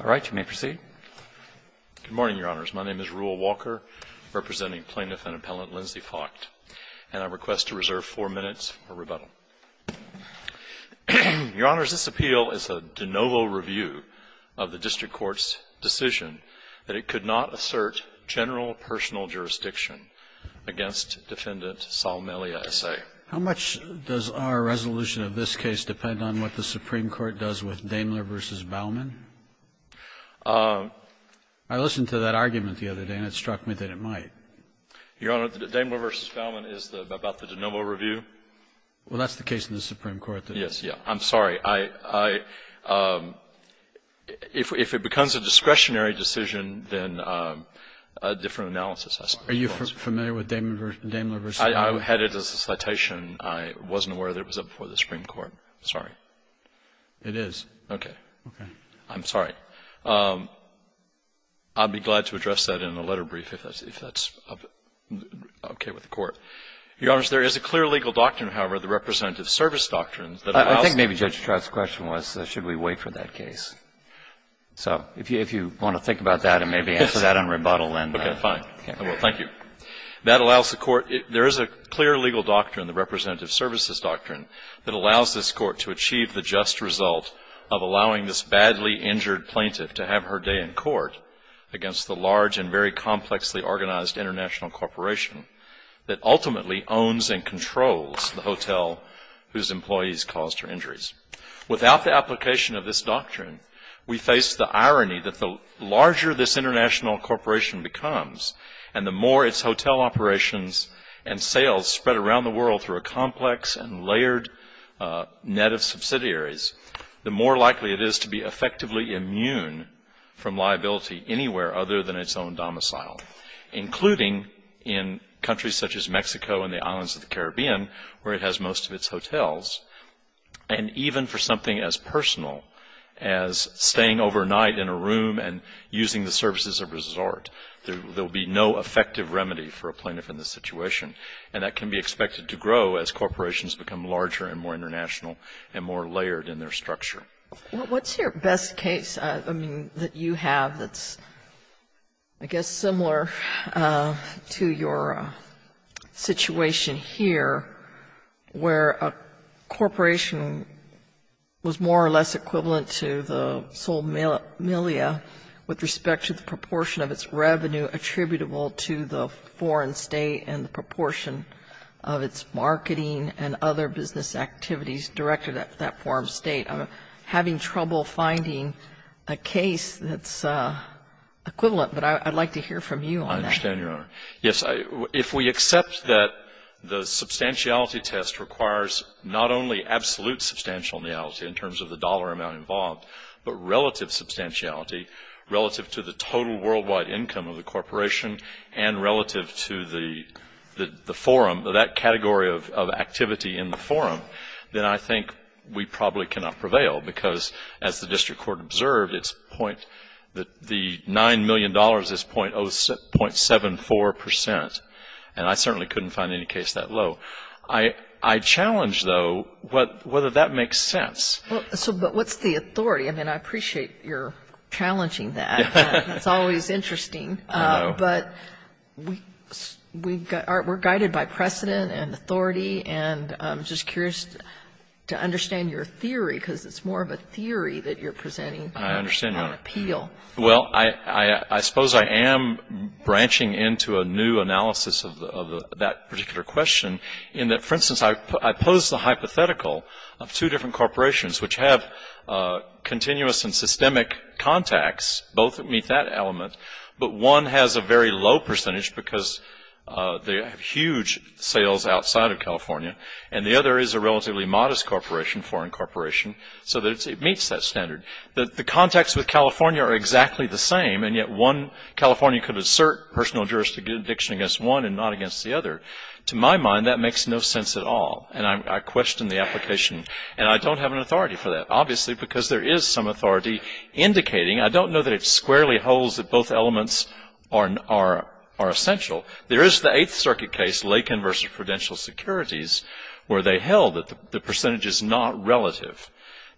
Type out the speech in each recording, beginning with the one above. All right. You may proceed. Good morning, Your Honors. My name is Reuel Walker, representing Plaintiff and Appellant Lindsay Focht, and I request to reserve four minutes for rebuttal. Your Honors, this appeal is a de novo review of the district court's decision that it could not assert general personal jurisdiction against Defendant Sol Melia S.A. How much does our resolution of this case depend on what the Supreme Court does with Daimler v. Bauman? I listened to that argument the other day, and it struck me that it might. Your Honor, the Daimler v. Bauman is about the de novo review. Well, that's the case in the Supreme Court. Yes, yes. I'm sorry. If it becomes a discretionary decision, then a different analysis. Are you familiar with Daimler v. Bauman? I had it as a citation. I wasn't aware that it was up for the Supreme Court. Sorry. It is. Okay. I'm sorry. I'd be glad to address that in a letter brief, if that's okay with the Court. Your Honors, there is a clear legal doctrine, however, the representative service doctrine that allows the court to do that. I think maybe Judge Trout's question was, should we wait for that case? So if you want to think about that and maybe answer that in rebuttal, then. Okay, fine. I will. Thank you. That allows the Court to do that. There is a clear legal doctrine, the representative services doctrine, that allows this Court to achieve the just result of allowing this badly injured plaintiff to have her day in court against the large and very complexly organized international corporation that ultimately owns and controls the hotel whose employees caused her injuries. Without the application of this doctrine, we face the irony that the larger this international corporation becomes and the more its hotel operations and sales spread around the world through a complex and layered net of subsidiaries, the more likely it is to be effectively immune from liability anywhere other than its own domicile, including in countries such as Mexico and the islands of the Caribbean, where it has most of its hotels, and even for something as personal as staying overnight in a room and using the services of a resort. There will be no effective remedy for a plaintiff in this situation, and that can be expected to grow as corporations become larger and more international and more layered in their structure. What's your best case, I mean, that you have that's, I guess, similar to your situation here, where a corporation was more or less equivalent to the sole milia with respect to the proportion of its revenue attributable to the foreign State and the proportion of its marketing and other business activities directed at that foreign State? Having trouble finding a case that's equivalent, but I'd like to hear from you on that. I understand, Your Honor. Yes, if we accept that the substantiality test requires not only absolute substantial miality in terms of the dollar amount involved, but relative substantiality relative to the total worldwide income of the corporation and relative to the forum, that category of activity in the forum, then I think we probably cannot prevail, because as the district court observed, it's point the $9 million is .74 percent, and I certainly couldn't find any case that low. I challenge, though, whether that makes sense. So, but what's the authority? I mean, I appreciate your challenging that. It's always interesting. I know. But we're guided by precedent and authority, and I'm just curious to understand your theory, because it's more of a theory that you're presenting than an appeal. I understand, Your Honor. Well, I suppose I am branching into a new analysis of that particular question in that, for instance, I pose the hypothetical of two different corporations which have continuous and systemic contacts, both that meet that element, but one has a very low percentage because they have huge sales outside of California, and the other is a relatively modest corporation, foreign corporation, so that it meets that standard. The contacts with California are exactly the same, and yet one California could assert personal jurisdiction against one and not against the other. To my mind, that makes no sense at all, and I question the application, and I don't have an authority for that, obviously, because there is some authority indicating, I don't know that it squarely holds that both elements are essential. There is the Eighth Circuit case, Lakin versus Prudential Securities, where they held that the percentage is not relative.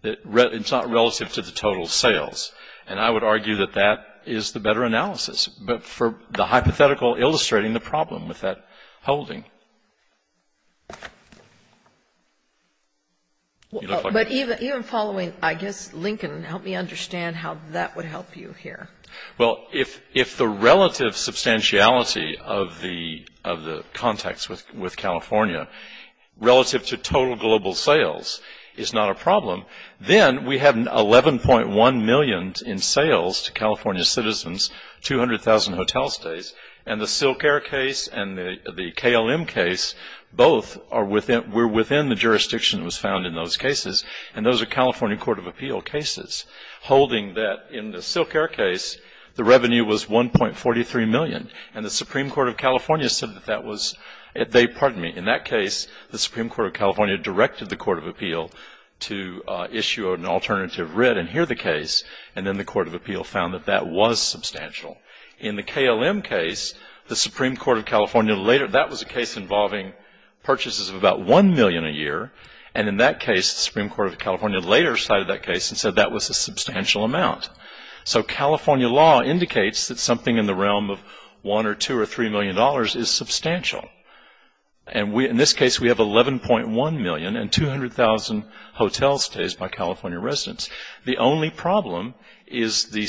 It's not relative to the total sales, and I would argue that that is the better analysis, but for the hypothetical illustrating the problem with that holding. But even following, I guess, Lincoln, help me understand how that would help you here. Well, if the relative substantiality of the contacts with California relative to total global sales is not a problem, then we have 11.1 million in sales to California citizens, 200,000 hotel stays, and the Silk Air case and the KLM case, both are within, were within the jurisdiction that was found in those cases, and those are California Court of Appeal cases, holding that in the Silk Air case, the revenue was 1.43 million, and the Supreme Court of California said that that was, they, pardon me, in that case, the Supreme Court of California directed the Court of Appeal to issue an alternative writ and hear the case, and then the Court of Appeal found that that was substantial. In the KLM case, the Supreme Court of California later, that was a case involving purchases of about 1 million a year, and in that case, the Supreme Court of California later cited that case and said that was a substantial amount. So California law indicates that something in the realm of 1 or 2 or 3 million dollars is substantial. And we, in this case, we have 11.1 million and 200,000 hotel stays by California residents. The only problem is the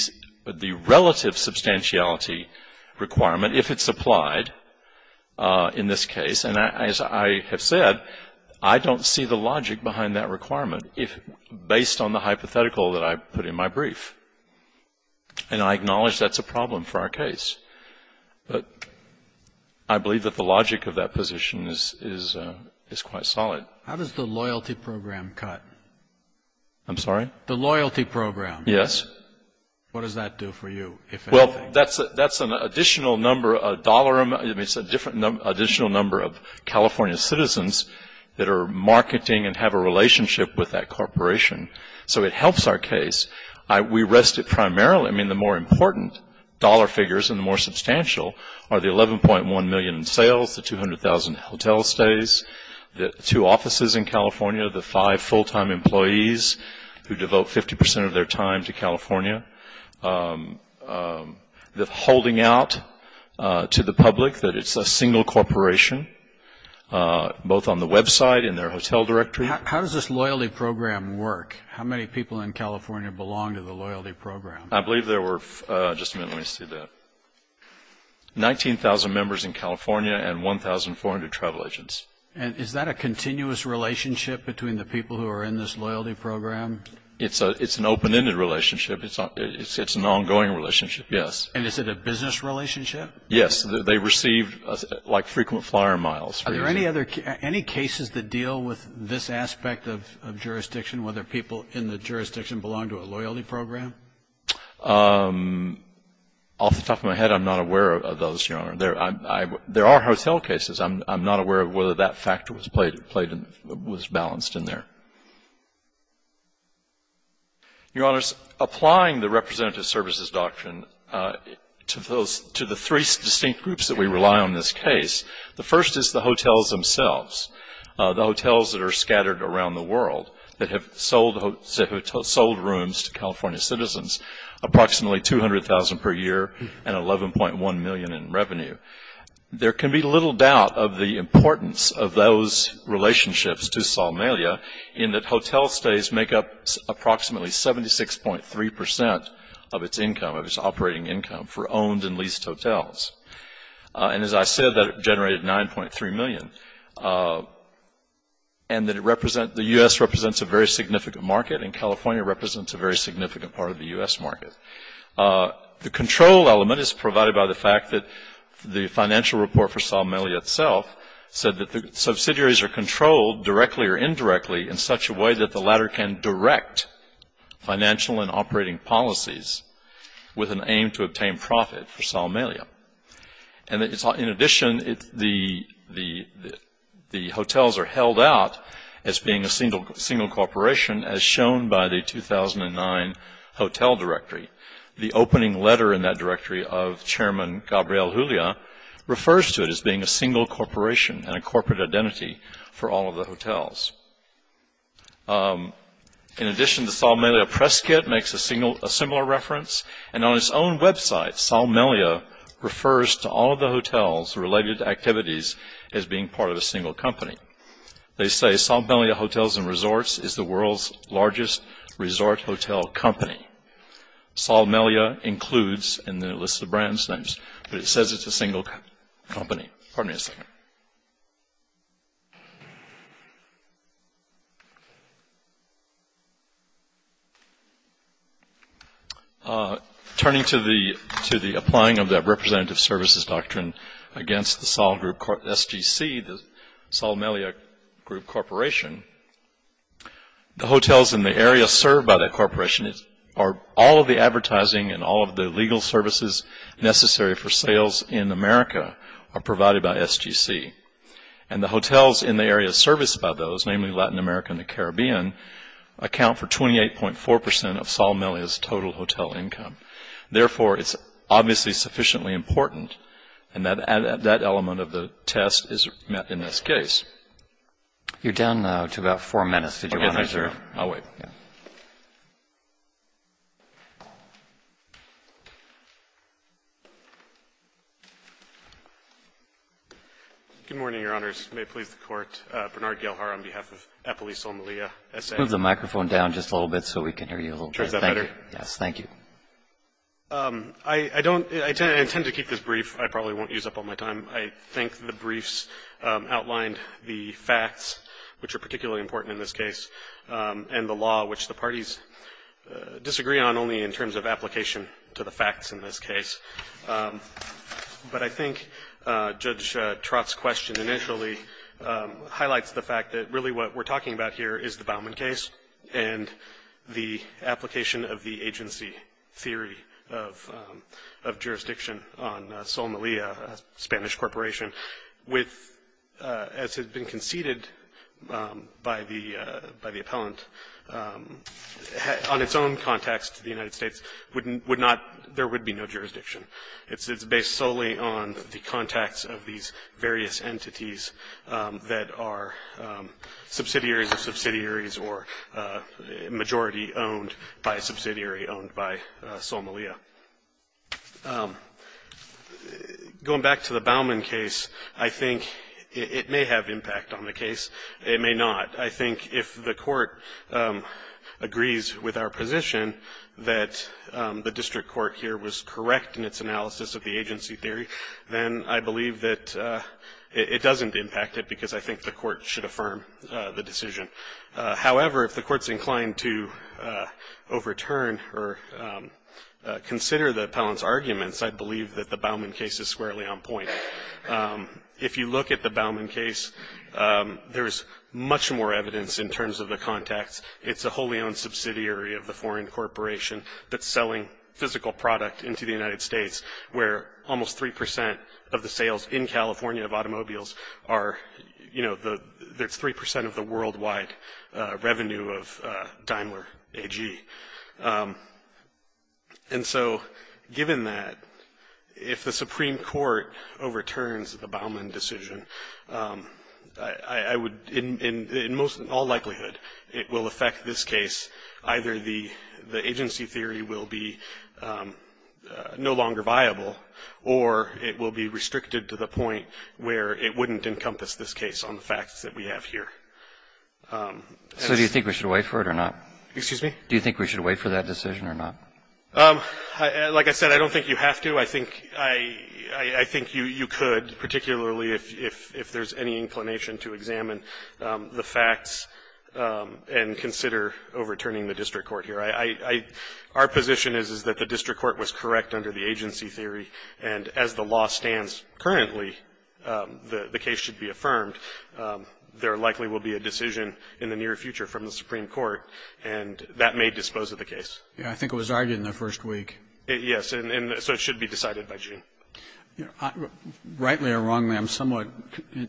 relative substantiality requirement, if it's applied in this case. And as I have said, I don't see the logic behind that requirement, if, based on the hypothetical that I put in my brief. And I acknowledge that's a problem for our case, but I believe that the logic of that position is, is, is quite solid. How does the loyalty program cut? I'm sorry? The loyalty program. Yes. What does that do for you, if anything? Well, that's, that's an additional number, a dollar, I mean, it's a different number, additional number of California citizens that are marketing and have a relationship with that corporation. So it helps our case. I, we rest it primarily, I mean, the more important dollar figures and the more substantial are the 11.1 million in sales, the 200,000 hotel stays, the two offices in California, the five full-time employees who devote 50% of their time to California. The holding out to the public that it's a single corporation, both on the website and their hotel directory. How does this loyalty program work? How many people in California belong to the loyalty program? I believe there were, just a minute, let me see that. 19,000 members in California and 1,400 travel agents. And is that a continuous relationship between the people who are in this loyalty program? It's a, it's an open-ended relationship. It's not, it's, it's an ongoing relationship, yes. And is it a business relationship? Yes, they receive like frequent flyer miles. Are there any other, any cases that deal with this aspect of, of jurisdiction, whether people in the jurisdiction belong to a loyalty program? Off the top of my head, I'm not aware of those, Your Honor. There, I, I, there are hotel cases. I'm, I'm not aware of whether that factor was played, played and was balanced in there. Your Honors, applying the representative services doctrine to those, to the three distinct groups that we rely on in this case. The first is the hotels themselves. The hotels that are scattered around the world that have sold, that have sold rooms to California citizens. Approximately 200,000 per year and 11.1 million in revenue. There can be little doubt of the importance of those relationships to Somalia in that hotel stays make up approximately 76.3% of its income, of its operating income, for owned and leased hotels. And as I said, that generated 9.3 million. And that it represent, the U.S. represents a very significant market and California represents a very significant part of the U.S. market. The control element is provided by the fact that the financial report for Somalia itself said that the subsidiaries are controlled directly or indirectly in such a way that the latter can direct financial and operating policies with an aim to obtain profit for Somalia. And in addition, the hotels are held out as being a single corporation as shown by the 2009 hotel directory. The opening letter in that directory of Chairman Gabriel Julia refers to it as being a single corporation and a corporate identity for all of the hotels. In addition, the Somalia Press Kit makes a similar reference. And on its own website, Somalia refers to all of the hotels related to activities as being part of a single company. They say Somalia Hotels and Resorts is the world's largest resort hotel company. Somalia includes in the list of brands names, but it says it's a single company. Pardon me a second. Turning to the applying of the representative services doctrine against the Sol Group, SGC, the Somalia Group Corporation. The hotels in the area served by that corporation are all of the advertising and all of the legal services necessary for sales in America are provided by SGC. And the hotels in the area serviced by those, namely Latin America and the Caribbean, account for 28.4% of Somalia's total hotel income. Therefore, it's obviously sufficiently important. And that element of the test is met in this case. You're down to about four minutes. Did you want to reserve? I'll wait. Good morning, Your Honors. May it please the Court. Bernard Galhar on behalf of Eppoli, Somalia. Move the microphone down just a little bit so we can hear you a little bit. Sure, is that better? Yes, thank you. I intend to keep this brief. I probably won't use up all my time. I think the briefs outlined the facts, which are particularly important in this case, and the law, which the parties disagree on only in terms of application to the facts in this case. But I think Judge Trott's question initially highlights the fact that really what we're talking about here is the Bauman case and the application of the agency theory of jurisdiction on Somalia, a Spanish corporation, with, as has been conceded by the appellant, on its own context to the United States, would not – there would be no jurisdiction. It's based solely on the contacts of these various entities that are subsidiaries of subsidiaries or a majority owned by a subsidiary owned by Somalia. Going back to the Bauman case, I think it may have impact on the case. It may not. I think if the court agrees with our position that the district court here was correct in its analysis of the agency theory, then I believe that it doesn't impact it because I think the court should affirm the decision. However, if the court's inclined to overturn or consider the appellant's arguments, I believe that the Bauman case is squarely on point. If you look at the Bauman case, there's much more evidence in terms of the contacts. It's a wholly owned subsidiary of the foreign corporation that's selling physical product into the United States, where almost 3% of the sales in California of automobiles are – you know, that's 3% of the worldwide revenue of Daimler AG. And so given that, if the Supreme Court overturns the Bauman decision, I would – in all likelihood, it will affect this case. Either the agency theory will be no longer viable or it will be restricted to the point where it wouldn't encompass this case on the facts that we have here. So do you think we should wait for it or not? Excuse me? Do you think we should wait for that decision or not? Like I said, I don't think you have to. I think you could, particularly if there's any inclination to examine the facts and consider overturning the district court here. Our position is that the district court was correct under the agency theory, and as the law stands currently, the case should be affirmed. There likely will be a decision in the near future from the Supreme Court, and that may dispose of the case. Yeah, I think it was argued in the first week. Yes, and so it should be decided by June. Rightly or wrongly, I'm somewhat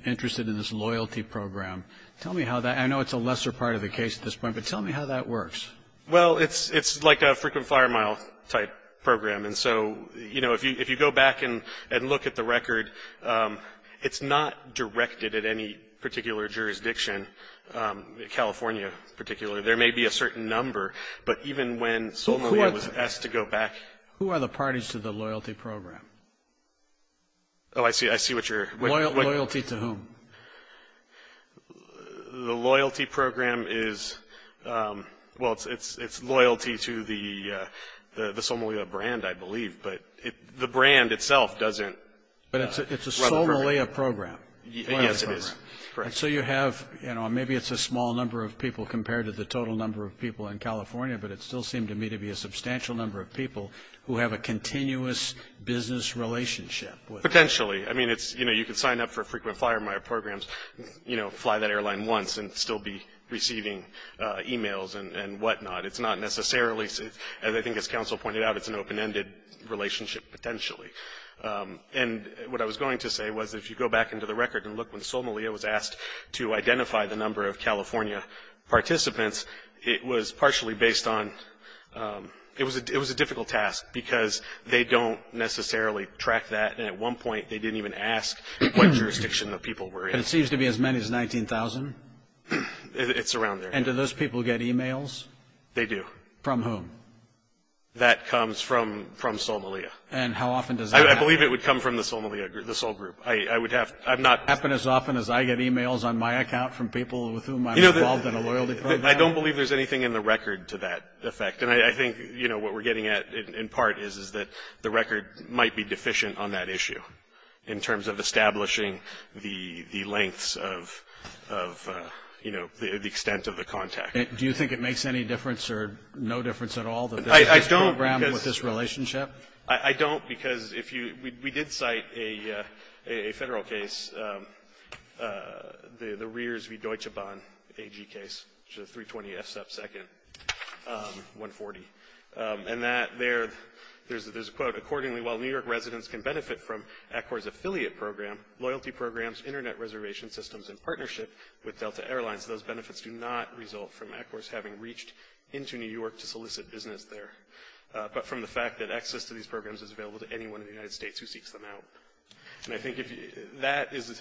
interested in this loyalty program. Tell me how that – I know it's a lesser part of the case at this point, but tell me how that works. Well, it's like a frequent flyer mile type program. And so, you know, if you go back and look at the record, it's not directed at any particular jurisdiction, California in particular. There may be a certain number, but even when Sole Malia was asked to go back – Who are the parties to the loyalty program? Oh, I see what you're – Loyalty to whom? The loyalty program is – well, it's loyalty to the Sole Malia brand, I believe, but the brand itself doesn't – But it's a Sole Malia program. Yes, it is. And so you have – you know, maybe it's a small number of people compared to the total number of people in California, but it still seemed to me to be a substantial number of people who have a continuous business relationship with – Potentially. I mean, it's – you know, you can sign up for frequent flyer mile programs, you know, fly that airline once and still be receiving emails and whatnot. It's not necessarily – as I think as counsel pointed out, it's an open-ended relationship potentially. And what I was going to say was if you go back into the record and look when Sole Malia was asked to identify the number of California participants, it was partially based on – it was a difficult task because they don't necessarily track that, and at one point they didn't even ask what jurisdiction the people were in. And it seems to be as many as 19,000? It's around there. And do those people get emails? They do. From whom? That comes from Sole Malia. And how often does that happen? I believe it would come from the Sole Malia – the Sole group. I would have – I'm not – Does it happen as often as I get emails on my account from people with whom I'm involved in a loyalty program? I don't believe there's anything in the record to that effect. And I think, you know, what we're getting at in part is that the record might be deficient on that issue in terms of establishing the lengths of – you know, the extent of the contact. Do you think it makes any difference or no difference at all that there's this program with this relationship? I don't, because if you – we did cite a federal case, the Rears v. Deutsche Bahn AG case, which is a 320F subsecond, 140. And that there – there's a quote. Accordingly, while New York residents can benefit from ECOR's affiliate program, loyalty programs, internet reservation systems, in partnership with Delta Airlines, those benefits do not result from ECOR's having reached into New York to solicit business there. But from the fact that access to these programs is available to anyone in the United States who seeks them out. And I think if – that is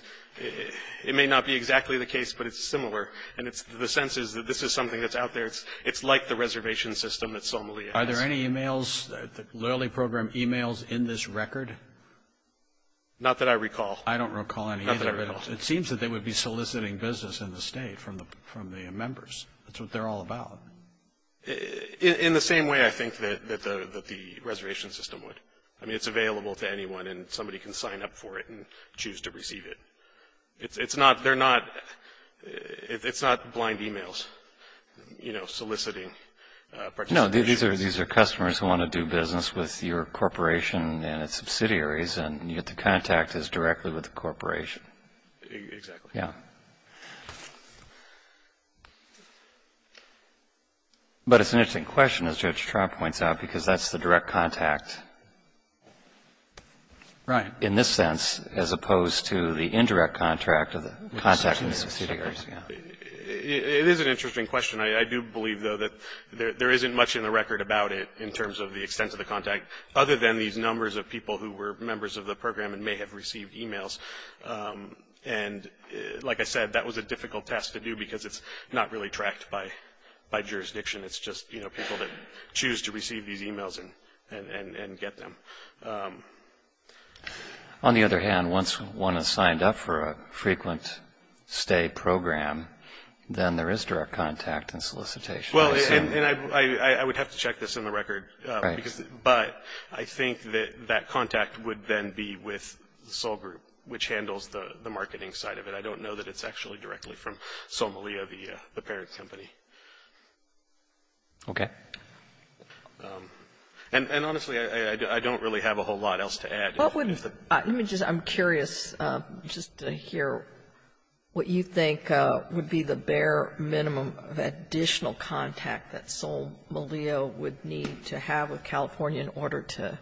– it may not be exactly the case, but it's similar. And it's – the sense is that this is something that's out there. It's like the reservation system that Somalia has. Are there any emails – loyalty program emails in this record? Not that I recall. I don't recall any either. Not that I recall. It seems that they would be soliciting business in the state from the members. That's what they're all about. In the same way, I think, that the reservation system would. I mean, it's available to anyone and somebody can sign up for it and choose to receive it. It's not – they're not – it's not blind emails, you know, soliciting participation. No, these are customers who want to do business with your corporation and its subsidiaries and you have to contact us directly with the corporation. Exactly. Yeah. But it's an interesting question, as Judge Trump points out, because that's the direct contact. Right. In this sense, as opposed to the indirect contract of the contact with the subsidiaries. It is an interesting question. I do believe, though, that there isn't much in the record about it in terms of the extent of the contact, other than these numbers of people who were members of the program and may have received emails. And, like I said, that was a difficult task to do because it's not really tracked by jurisdiction. It's just, you know, people that choose to receive these emails and get them. On the other hand, once one has signed up for a frequent stay program, then there is direct contact and solicitation. Well, and I would have to check this in the record. Right. But I think that that contact would then be with Sol Group, which handles the marketing side of it. I don't know that it's actually directly from Sol Melillo, the parent company. Okay. And honestly, I don't really have a whole lot else to add. Let me just, I'm curious just to hear what you think would be the bare minimum of additional contact that Sol Melillo would need to have with California in order to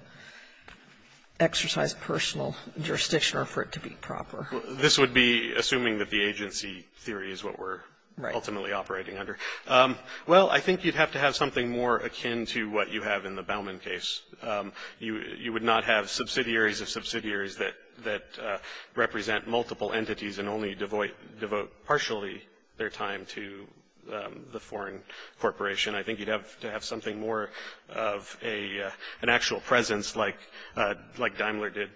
exercise personal jurisdiction or for it to be proper. This would be assuming that the agency theory is what we're ultimately operating under. Well, I think you'd have to have something more akin to what you have in the Bauman case. You would not have subsidiaries of subsidiaries that represent multiple entities and only devote partially their time to the foreign corporation. I think you'd have to have something more of an actual presence like Daimler did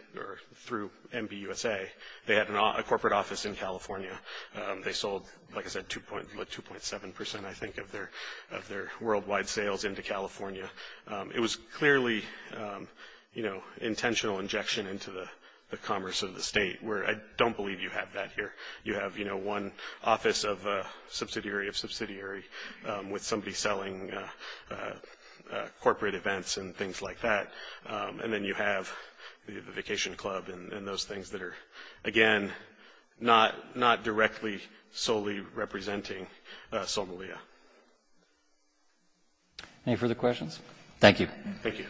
through MBUSA. They had a corporate office in California. They sold, like I said, 2.7%, I think, of their worldwide sales into California. It was clearly, you know, intentional injection into the commerce of the state, where I don't believe you have that here. You have, you know, one office of a subsidiary of subsidiary with somebody selling corporate events and things like that. And then you have the vacation club and those things that are, again, not directly solely representing Sol Melillo. Any further questions? Thank you. Thank you.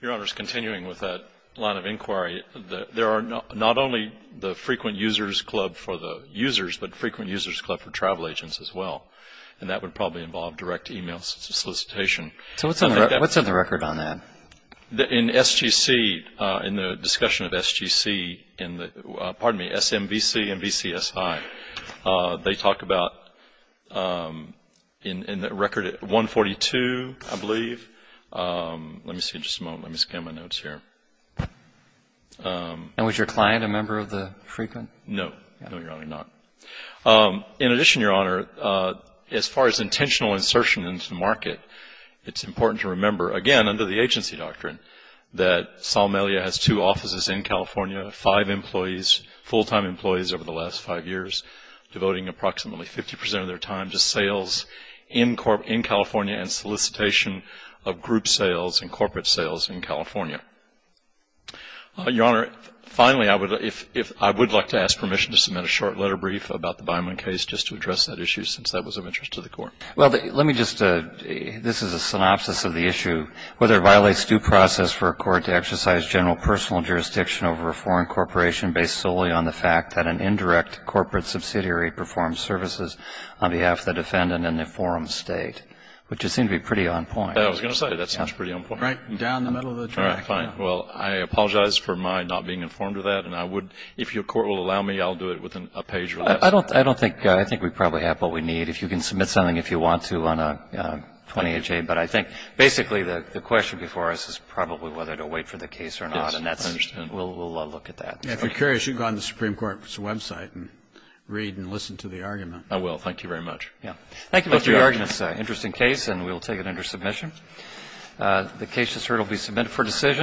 Your Honor, just continuing with that line of inquiry, there are not only the frequent users club for the users, but frequent users club for travel agents as well. And that would probably involve direct email solicitation. So what's on the record on that? In SGC, in the discussion of SGC in the, pardon me, SMVC and VCSI, they talk about, in the record, 142, I believe. Let me see just a moment. Let me scan my notes here. And was your client a member of the frequent? No. No, Your Honor, not. In addition, Your Honor, as far as intentional insertion into the market, it's important to remember, again, under the agency doctrine, that Sol Melillo has two offices in California, five employees, full-time employees over the last five years, devoting approximately 50% of their time to sales in California and solicitation of group sales and corporate sales in California. Your Honor, finally, I would like to ask permission to submit a short letter brief about the Byman case just to address that issue, since that was of interest to the Court. Well, let me just, this is a synopsis of the issue, whether it violates due process for a court to exercise general personal jurisdiction over a foreign corporation based solely on the fact that an indirect corporate subsidiary performs services on behalf of the defendant in an informed state, which would seem to be pretty on point. I was going to say, that sounds pretty on point. Right down the middle of the track. All right, fine. Well, I apologize for my not being informed of that, and I would, if your court will allow me, I'll do it within a page or less. I don't think, I think we probably have what we need. If you can submit something if you want to on a 28-J, but I think basically the question before us is probably whether to wait for the case or not, and that's, we'll look at that. If you're curious, you can go on the Supreme Court's website and read and listen to the argument. I will. Thank you very much. Thank you, Mr. Yergin. It's an interesting case, and we'll take it under submission. The case, as heard, will be submitted for decision.